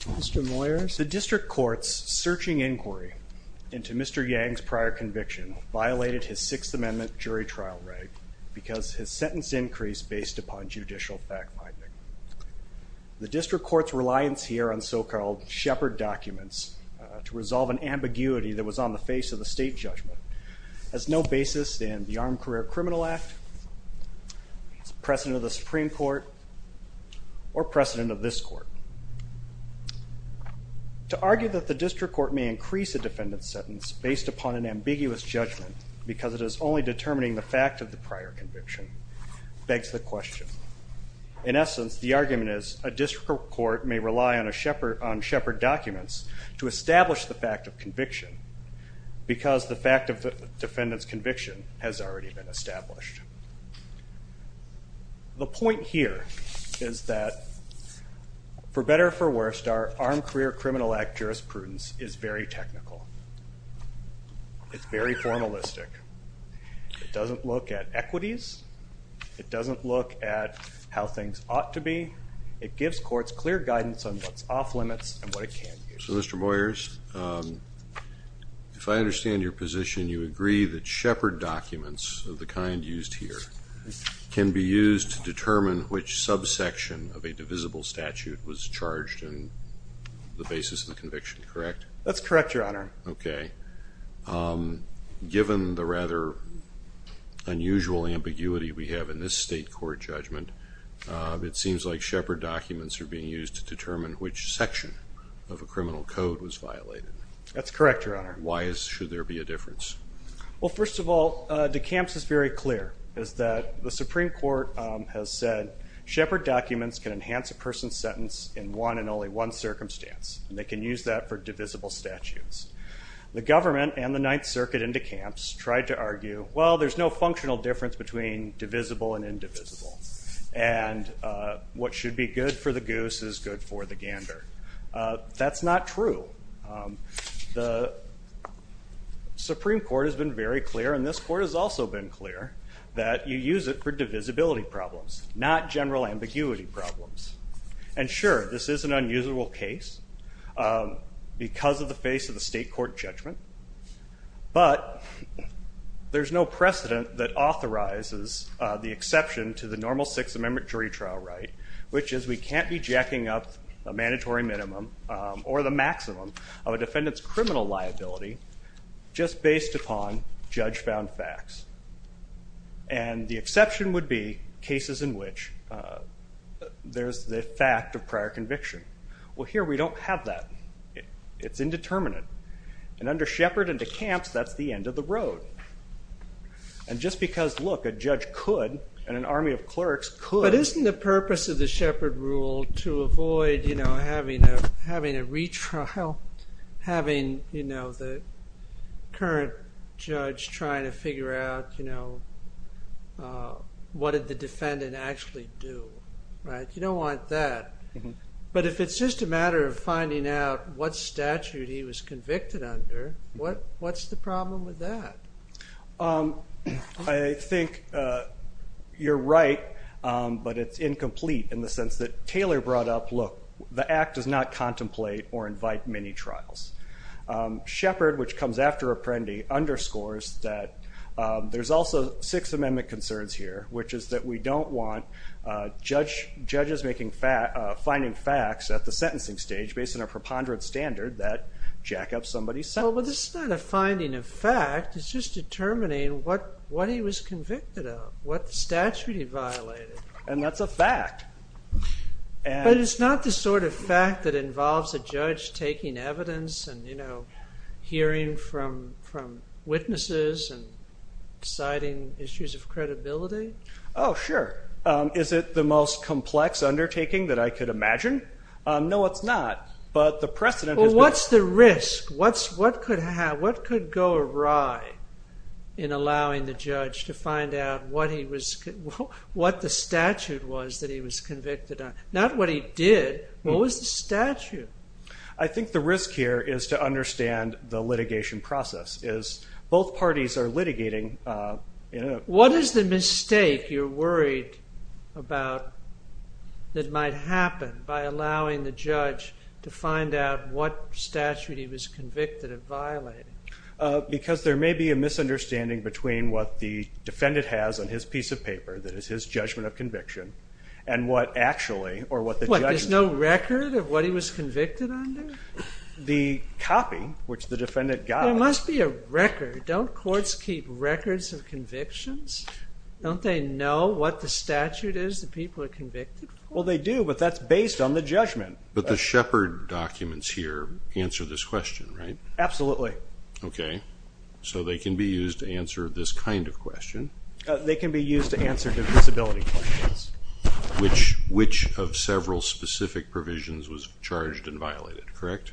The district court's searching inquiry into Mr. Yang's prior conviction violated his Sixth Amendment jury trial right because his sentence increased based upon judicial backbiting. The district court's reliance here on so-called Shepard documents to resolve an ambiguity that was on the face of the state judgment has no basis in the Armed Career Criminal Act, precedent of the Supreme Court, or precedent of this court. To argue that the district court may increase a defendant's sentence based upon an ambiguous judgment because it is only determining the fact of the prior conviction begs the question. In essence, the argument is a district court may rely on Shepard documents to establish the fact of conviction because the fact of the defendant's conviction has already been established. The point here is that, for better or for worse, our Armed Career Criminal Act jurisprudence is very technical, it's very formalistic, it doesn't look at equities, it doesn't look at how things ought to be, it gives courts clear guidance on what's off limits and what it can use. So, Mr. Boyers, if I understand your position, you agree that Shepard documents of the kind used here can be used to determine which subsection of a divisible statute was charged and the basis of the conviction, correct? That's correct, Your Honor. Okay. Given the rather unusual ambiguity we have in this state court judgment, it seems like each section of a criminal code was violated. That's correct, Your Honor. Why? Should there be a difference? Well, first of all, DeCamps is very clear, is that the Supreme Court has said Shepard documents can enhance a person's sentence in one and only one circumstance, and they can use that for divisible statutes. The government and the Ninth Circuit in DeCamps tried to argue, well, there's no functional difference between divisible and indivisible, and what should be good for the goose is good for the gander. That's not true. The Supreme Court has been very clear, and this court has also been clear, that you use it for divisibility problems, not general ambiguity problems. And sure, this is an unusual case because of the face of the state court judgment, but there's no precedent that authorizes the exception to the normal Sixth Amendment jury trial right, which is we can't be jacking up a mandatory minimum or the maximum of a defendant's criminal liability just based upon judge-found facts. And the exception would be cases in which there's the fact of prior conviction. Well, here we don't have that. It's indeterminate. And under Shepard and DeCamps, that's the end of the road. And just because, look, a judge could and an army of clerks could. But isn't the purpose of the Shepard rule to avoid having a retrial, having the current judge trying to figure out what did the defendant actually do, right? You don't want that. But if it's just a matter of finding out what statute he was convicted under, what's the problem with that? I think you're right, but it's incomplete in the sense that Taylor brought up, look, the act does not contemplate or invite many trials. Shepard, which comes after Apprendi, underscores that there's also Sixth Amendment concerns here, which is that we don't want judges finding facts at the sentencing stage based on a preponderant standard that jack up somebody's sentence. Well, this is not a finding of fact. It's just determining what he was convicted of, what statute he violated. And that's a fact. But it's not the sort of fact that involves a judge taking evidence and hearing from witnesses and deciding issues of credibility. Oh, sure. Is it the most complex undertaking that I could imagine? No, it's not. But the precedent is- Well, what's the risk? What could go awry in allowing the judge to find out what the statute was that he was convicted on? Not what he did. What was the statute? I think the risk here is to understand the litigation process. Both parties are litigating. What is the mistake you're worried about that might happen by allowing the judge to find out what statute he was convicted of violating? Because there may be a misunderstanding between what the defendant has on his piece of paper that is his judgment of conviction and what actually- What? There's no record of what he was convicted under? The copy, which the defendant got- There must be a record. Don't courts keep records of convictions? Don't they know what the statute is that people are convicted for? Well, they do, but that's based on the judgment. But the Shepard documents here answer this question, right? Absolutely. Okay. So they can be used to answer this kind of question. They can be used to answer divisibility questions. Which of several specific provisions was charged and violated, correct?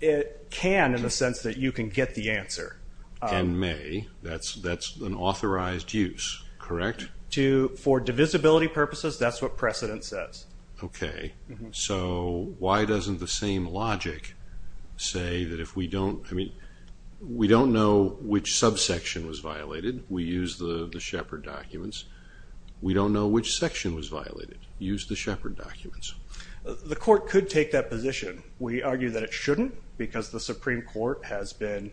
It can in the sense that you can get the answer. And may. That's an authorized use, correct? For divisibility purposes, that's what precedent says. Okay. So why doesn't the same logic say that if we don't- I mean, we don't know which subsection was violated. We use the Shepard documents. We don't know which section was violated. Use the Shepard documents. The court could take that position. We argue that it shouldn't because the Supreme Court has been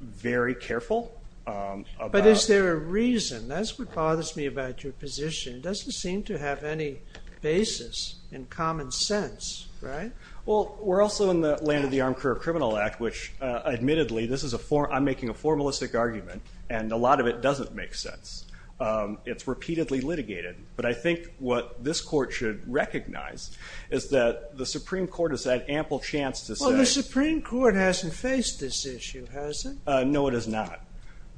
very careful about- But is there a reason? That's what bothers me about your position. It doesn't seem to have any basis in common sense, right? Well, we're also in the land of the Armed Career Criminal Act, which admittedly, this is a formal- I'm making a formalistic argument, and a lot of it doesn't make sense. It's repeatedly litigated. But I think what this court should recognize is that the Supreme Court has had ample chance to say- Well, the Supreme Court hasn't faced this issue, has it? No, it has not.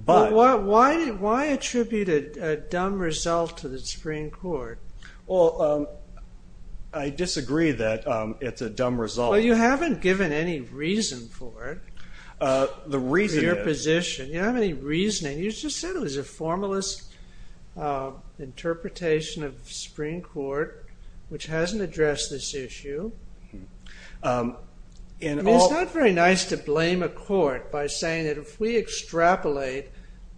But why attribute a dumb result to the Supreme Court? Well, I disagree that it's a dumb result. Well, you haven't given any reason for it. The reason is- Your position. You don't have any reasoning. You just said it was a formalist interpretation of the Supreme Court, which hasn't addressed this issue. I mean, it's not very nice to blame a court by saying that if we extrapolate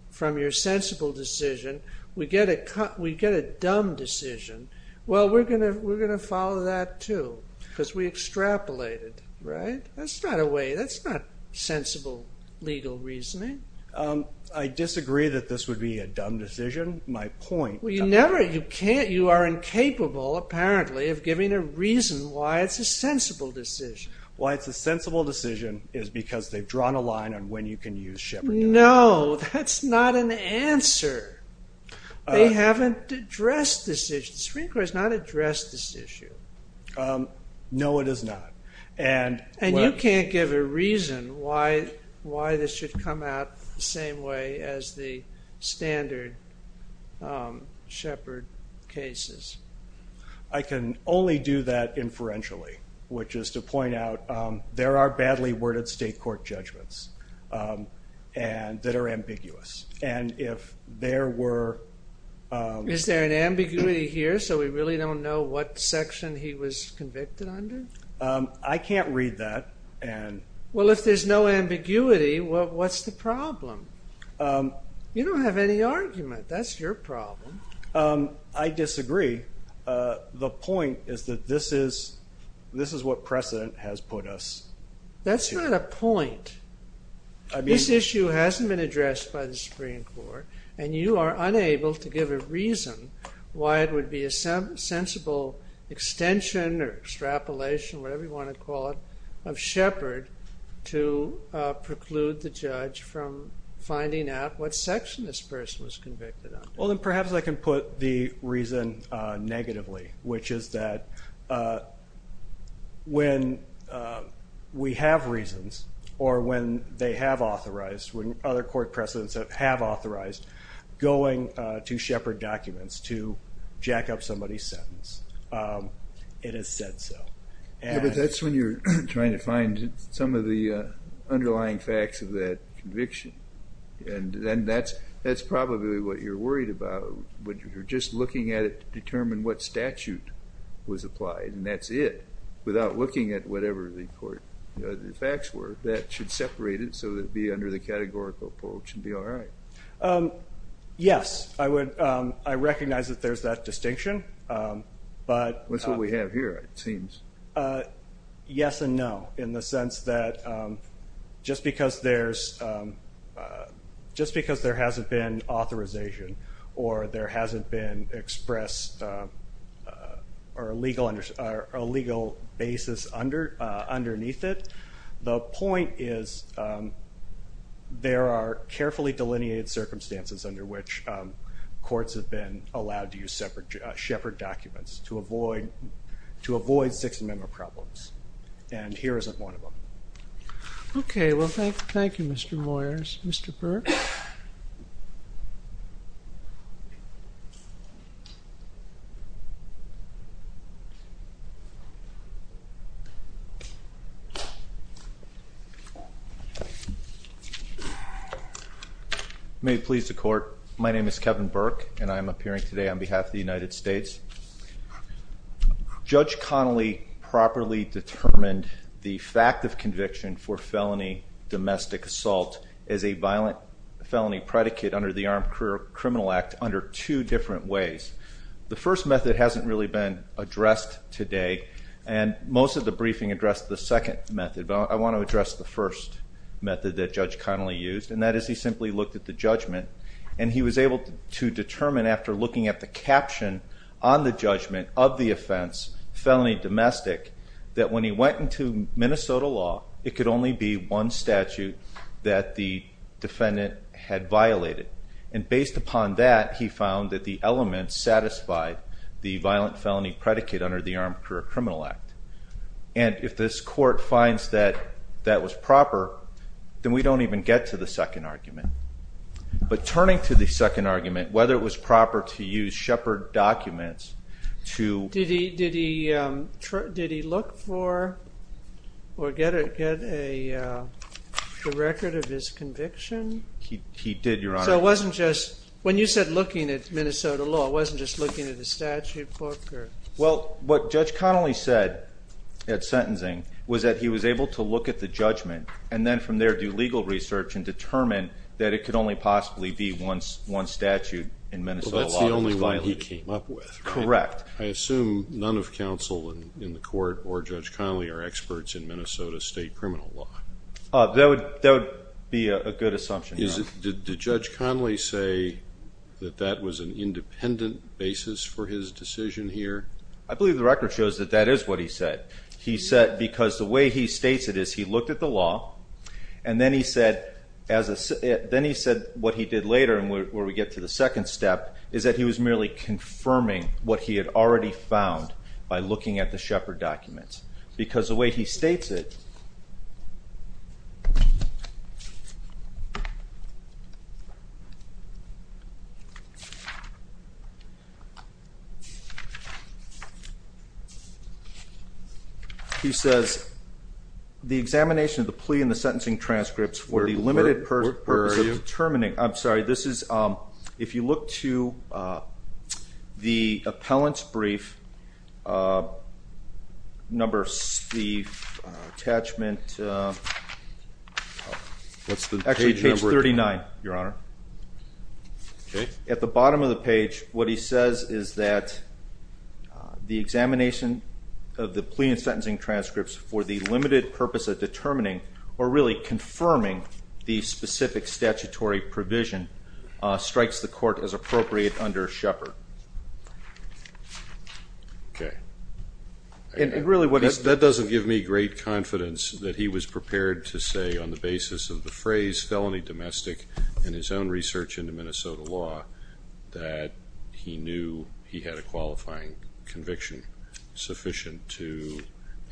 from your sensible decision, we get a dumb decision. Well, we're going to follow that, too, because we extrapolated, right? That's not a way- that's not sensible legal reasoning. I disagree that this would be a dumb decision. My point- Well, you never- you can't- you are incapable, apparently, of giving a reason why it's a sensible decision. Why it's a sensible decision is because they've drawn a line on when you can use Shepard- No, that's not an answer. They haven't addressed this issue. The Supreme Court has not addressed this issue. No, it has not. And- Why this should come out the same way as the standard Shepard cases. I can only do that inferentially, which is to point out there are badly worded state court judgments that are ambiguous. And if there were- Is there an ambiguity here, so we really don't know what section he was convicted under? I can't read that. Well, if there's no ambiguity, what's the problem? You don't have any argument. That's your problem. I disagree. The point is that this is what precedent has put us to. That's not a point. This issue hasn't been addressed by the Supreme Court, and you are unable to give a reason why it would be a sensible extension or extrapolation, whatever you want to call it, of Shepard to preclude the judge from finding out what section this person was convicted under. Well, then perhaps I can put the reason negatively, which is that when we have reasons, or when they have authorized, when other court precedents have authorized going to Shepard documents to jack up somebody's sentence, it is said so. Yeah, but that's when you're trying to find some of the underlying facts of that conviction, and then that's probably what you're worried about, when you're just looking at it to determine what statute was applied, and that's it, without looking at whatever the facts were. That should separate it so that it would be under the categorical poll, it should be all right. Yes, I recognize that there's that distinction, but- That's what we have here, it seems. Yes and no, in the sense that just because there hasn't been authorization, or there hasn't been expressed, or a legal basis underneath it, the point is that there's a distinction and the point is there are carefully delineated circumstances under which courts have been allowed to use Shepard documents to avoid Sixth Amendment problems, and here isn't one of them. Okay, well thank you Mr. Moyers. Mr. Burke? May it please the court, my name is Kevin Burke, and I am appearing today on behalf of the United States. Judge Connolly properly determined the fact of conviction for felony domestic assault as a violent felony predicate under the Armed Criminal Act under two different ways. The first method hasn't really been addressed today, and most of the briefing addressed the second method, but I want to address the first method that Judge Connolly used, and that is he simply looked at the judgment, and he was able to determine after looking at the caption on the judgment of the offense, felony domestic, that when he went into Minnesota law, it could only be one statute that the defendant had violated, and based upon that, he found that the element satisfied the violent felony predicate under the Armed Criminal Act, and if this court finds that that was proper, then we don't even get to the second argument, but turning to the second argument, whether it was proper to use Shepard documents to... Did he look for or get a record of his conviction? He did, Your Honor. So it wasn't just, when you said looking at Minnesota law, it wasn't just looking at the statute book, or... Well, what Judge Connolly said at sentencing was that he was able to look at the judgment, and then from there do legal research and determine that it could only possibly be one statute in Minnesota law that he violated. Well, that's the only one he came up with, right? Correct. I assume none of counsel in the court or Judge Connolly are experts in Minnesota state criminal law. That would be a good assumption, Your Honor. Did Judge Connolly say that that was an independent basis for his decision here? I believe the record shows that that is what he said. He said, because the way he states it is he looked at the law, and then he said what he did later, and where we get to the second step, is that he was merely confirming what he had already found by looking at the Shepard documents, because the way he states it... He says, the examination of the plea and the sentencing transcripts for the limited purpose of determining... Where are you? I'm sorry. This is... If you look to the appellant's brief, number... The attachment... What's the page number? Actually, page 39, Your Honor. Okay. At the bottom of the page, what he says is that the examination of the plea and sentencing transcripts for the limited purpose of determining, or really confirming, the specific statutory provision strikes the court as appropriate under Shepard. Okay. And really what he... That doesn't give me great confidence that he was prepared to say, on the basis of the phrase, felony domestic, and his own research into Minnesota law, that he knew he had a qualifying conviction sufficient to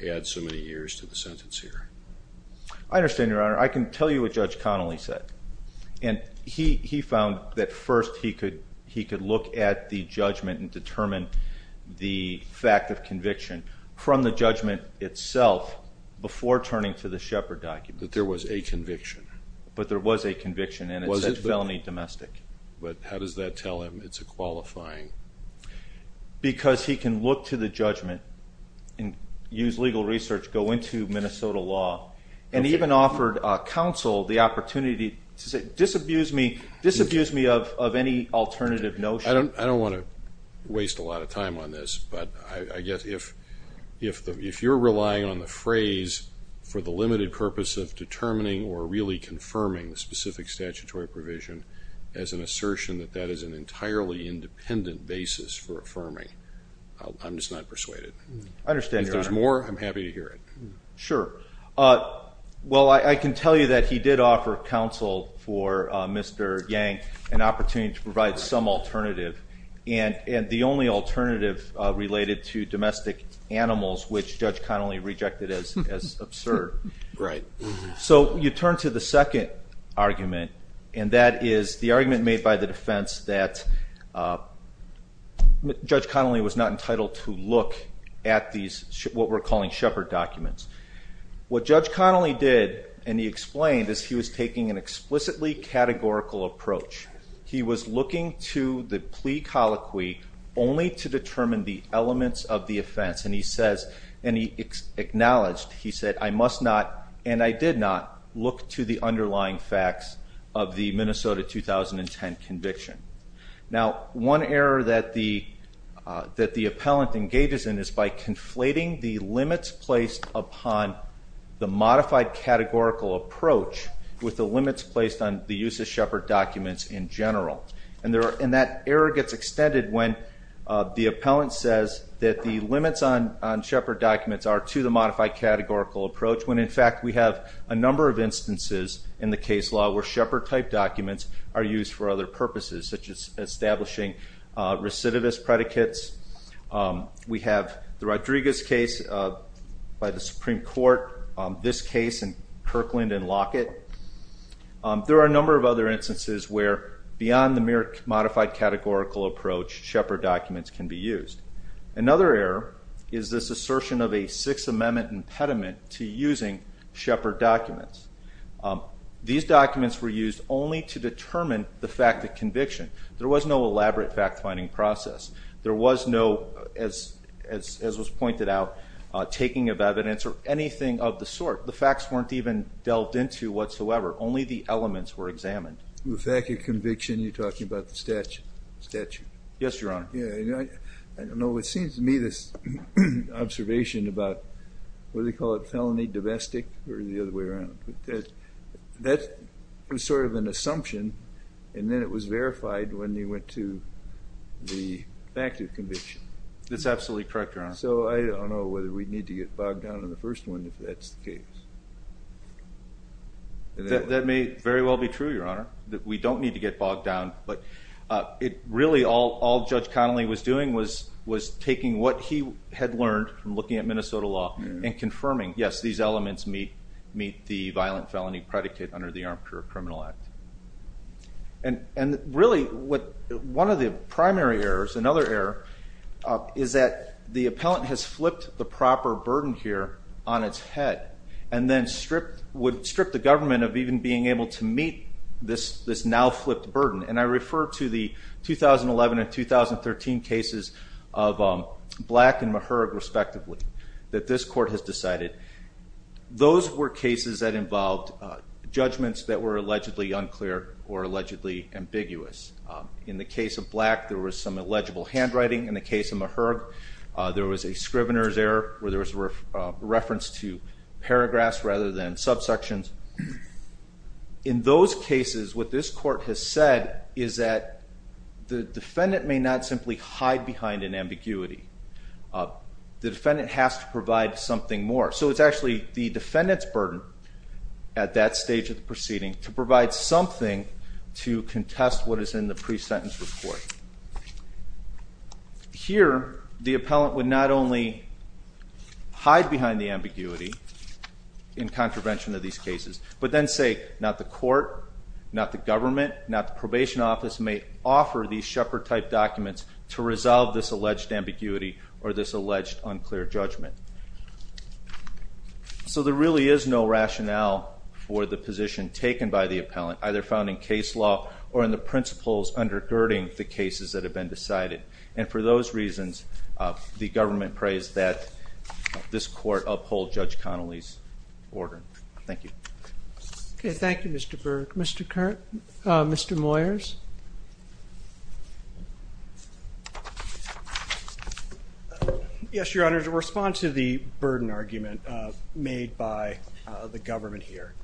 add so many years to the sentence here. I understand, Your Honor. I can tell you what Judge Connolly said, and he found that first he could look at the judgment and determine the fact of conviction from the judgment itself before turning to the Shepard document. That there was a conviction. But there was a conviction, and it said felony domestic. But how does that tell him it's a qualifying? Because he can look to the judgment and use legal research, go into Minnesota law, and even offered counsel the opportunity to say, disabuse me of any alternative notion. I don't want to waste a lot of time on this, but I guess if you're relying on the phrase for the limited purpose of determining, or really confirming, the specific statutory provision as an assertion that that is an entirely independent basis for affirming, I'm just not persuaded. I understand, Your Honor. If there's more, I'm happy to hear it. Sure. Well, I can tell you that he did offer counsel for Mr. Yang an opportunity to provide some alternative, and the only alternative related to domestic animals, which Judge Connolly rejected as absurd. Right. So you turn to the second argument, and that is the argument made by the defense that Judge Connolly was not entitled to look at these, what we're calling Shepard documents. What Judge Connolly did, and he explained, is he was taking an explicitly categorical approach. He was looking to the plea colloquy only to determine the elements of the offense, and he says, and he acknowledged, he said, I must not, and I did not, look to the underlying facts of the Minnesota 2010 conviction. Now one error that the appellant engages in is by conflating the limits placed upon the approach with the limits placed on the use of Shepard documents in general, and that error gets extended when the appellant says that the limits on Shepard documents are to the modified categorical approach, when in fact we have a number of instances in the case law where Shepard-type documents are used for other purposes, such as establishing recidivist predicates. We have the Rodriguez case by the Supreme Court, this case in Kirkland and Lockett. There are a number of other instances where beyond the modified categorical approach, Shepard documents can be used. Another error is this assertion of a Sixth Amendment impediment to using Shepard documents. These documents were used only to determine the fact of conviction. There was no elaborate fact-finding process. There was no, as was pointed out, taking of evidence or anything of the sort. The facts weren't even delved into whatsoever. Only the elements were examined. The fact of conviction, you're talking about the statute. Yes, Your Honor. I don't know, it seems to me this observation about, what do they call it, felony domestic, or the other way around. That was sort of an assumption, and then it was verified when you went to the fact of conviction. That's absolutely correct, Your Honor. So I don't know whether we'd need to get bogged down in the first one if that's the case. That may very well be true, Your Honor. We don't need to get bogged down, but really all Judge Connolly was doing was taking what he had learned from looking at Minnesota law and confirming, yes, these elements meet the violent felony predicate under the Armature Criminal Act. And really, one of the primary errors, another error, is that the appellant has flipped the proper burden here on its head, and then would strip the government of even being able to meet this now-flipped burden. And I refer to the 2011 and 2013 cases of Black and Meharig, respectively, that this Court has decided. Those were cases that involved judgments that were allegedly unclear or allegedly ambiguous. In the case of Black, there was some illegible handwriting. In the case of Meharig, there was a scrivener's error where there was a reference to paragraphs rather than subsections. In those cases, what this Court has said is that the defendant may not simply hide behind an ambiguity. The defendant has to provide something more. So it's actually the defendant's burden at that stage of the proceeding to provide something to contest what is in the pre-sentence report. Here, the appellant would not only hide behind the ambiguity in contravention of these cases, but then say, not the Court, not the government, not the probation office may offer these Shepherd-type documents to resolve this alleged ambiguity or this alleged unclear judgment. So there really is no rationale for the position taken by the appellant, either found in case law or in the principles undergirding the cases that have been decided. And for those reasons, the government prays that this Court uphold Judge Connolly's order. Thank you. Thank you, Mr. Burke. Mr. Moyers? Yes, Your Honor. To respond to the burden argument made by the government here,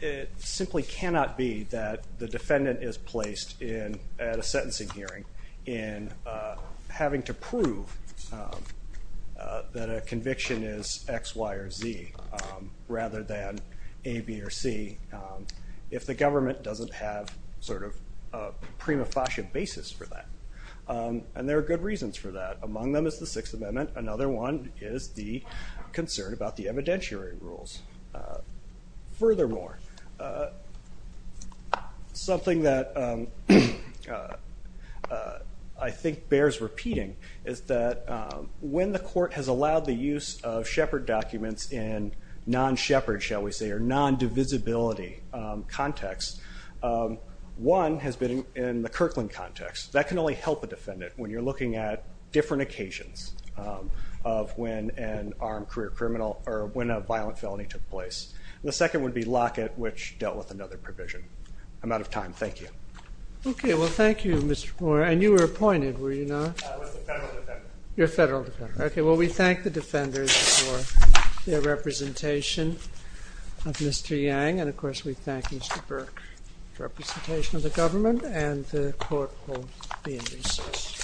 it simply cannot be that the defendant is placed at a sentencing hearing in having to prove that a conviction is X, Y, or Z, rather than A, B, or C, if the government doesn't have sort of a prima facie basis for that. And there are good reasons for that. Among them is the Sixth Amendment. Another one is the concern about the evidentiary rules. Furthermore, something that I think bears repeating is that when the Court has allowed the appellant to use Shepard documents in non-Shepard, shall we say, or non-divisibility context, one has been in the Kirkland context. That can only help a defendant when you're looking at different occasions of when an armed career criminal or when a violent felony took place. The second would be Lockett, which dealt with another provision. I'm out of time. Thank you. Okay. Well, thank you, Mr. Moore. And you were appointed, were you not? I was the federal defendant. You're a federal defendant. Okay. Well, we thank the defenders for their representation of Mr. Yang. And of course, we thank Mr. Burke for representation of the government. And the Court will be in recess.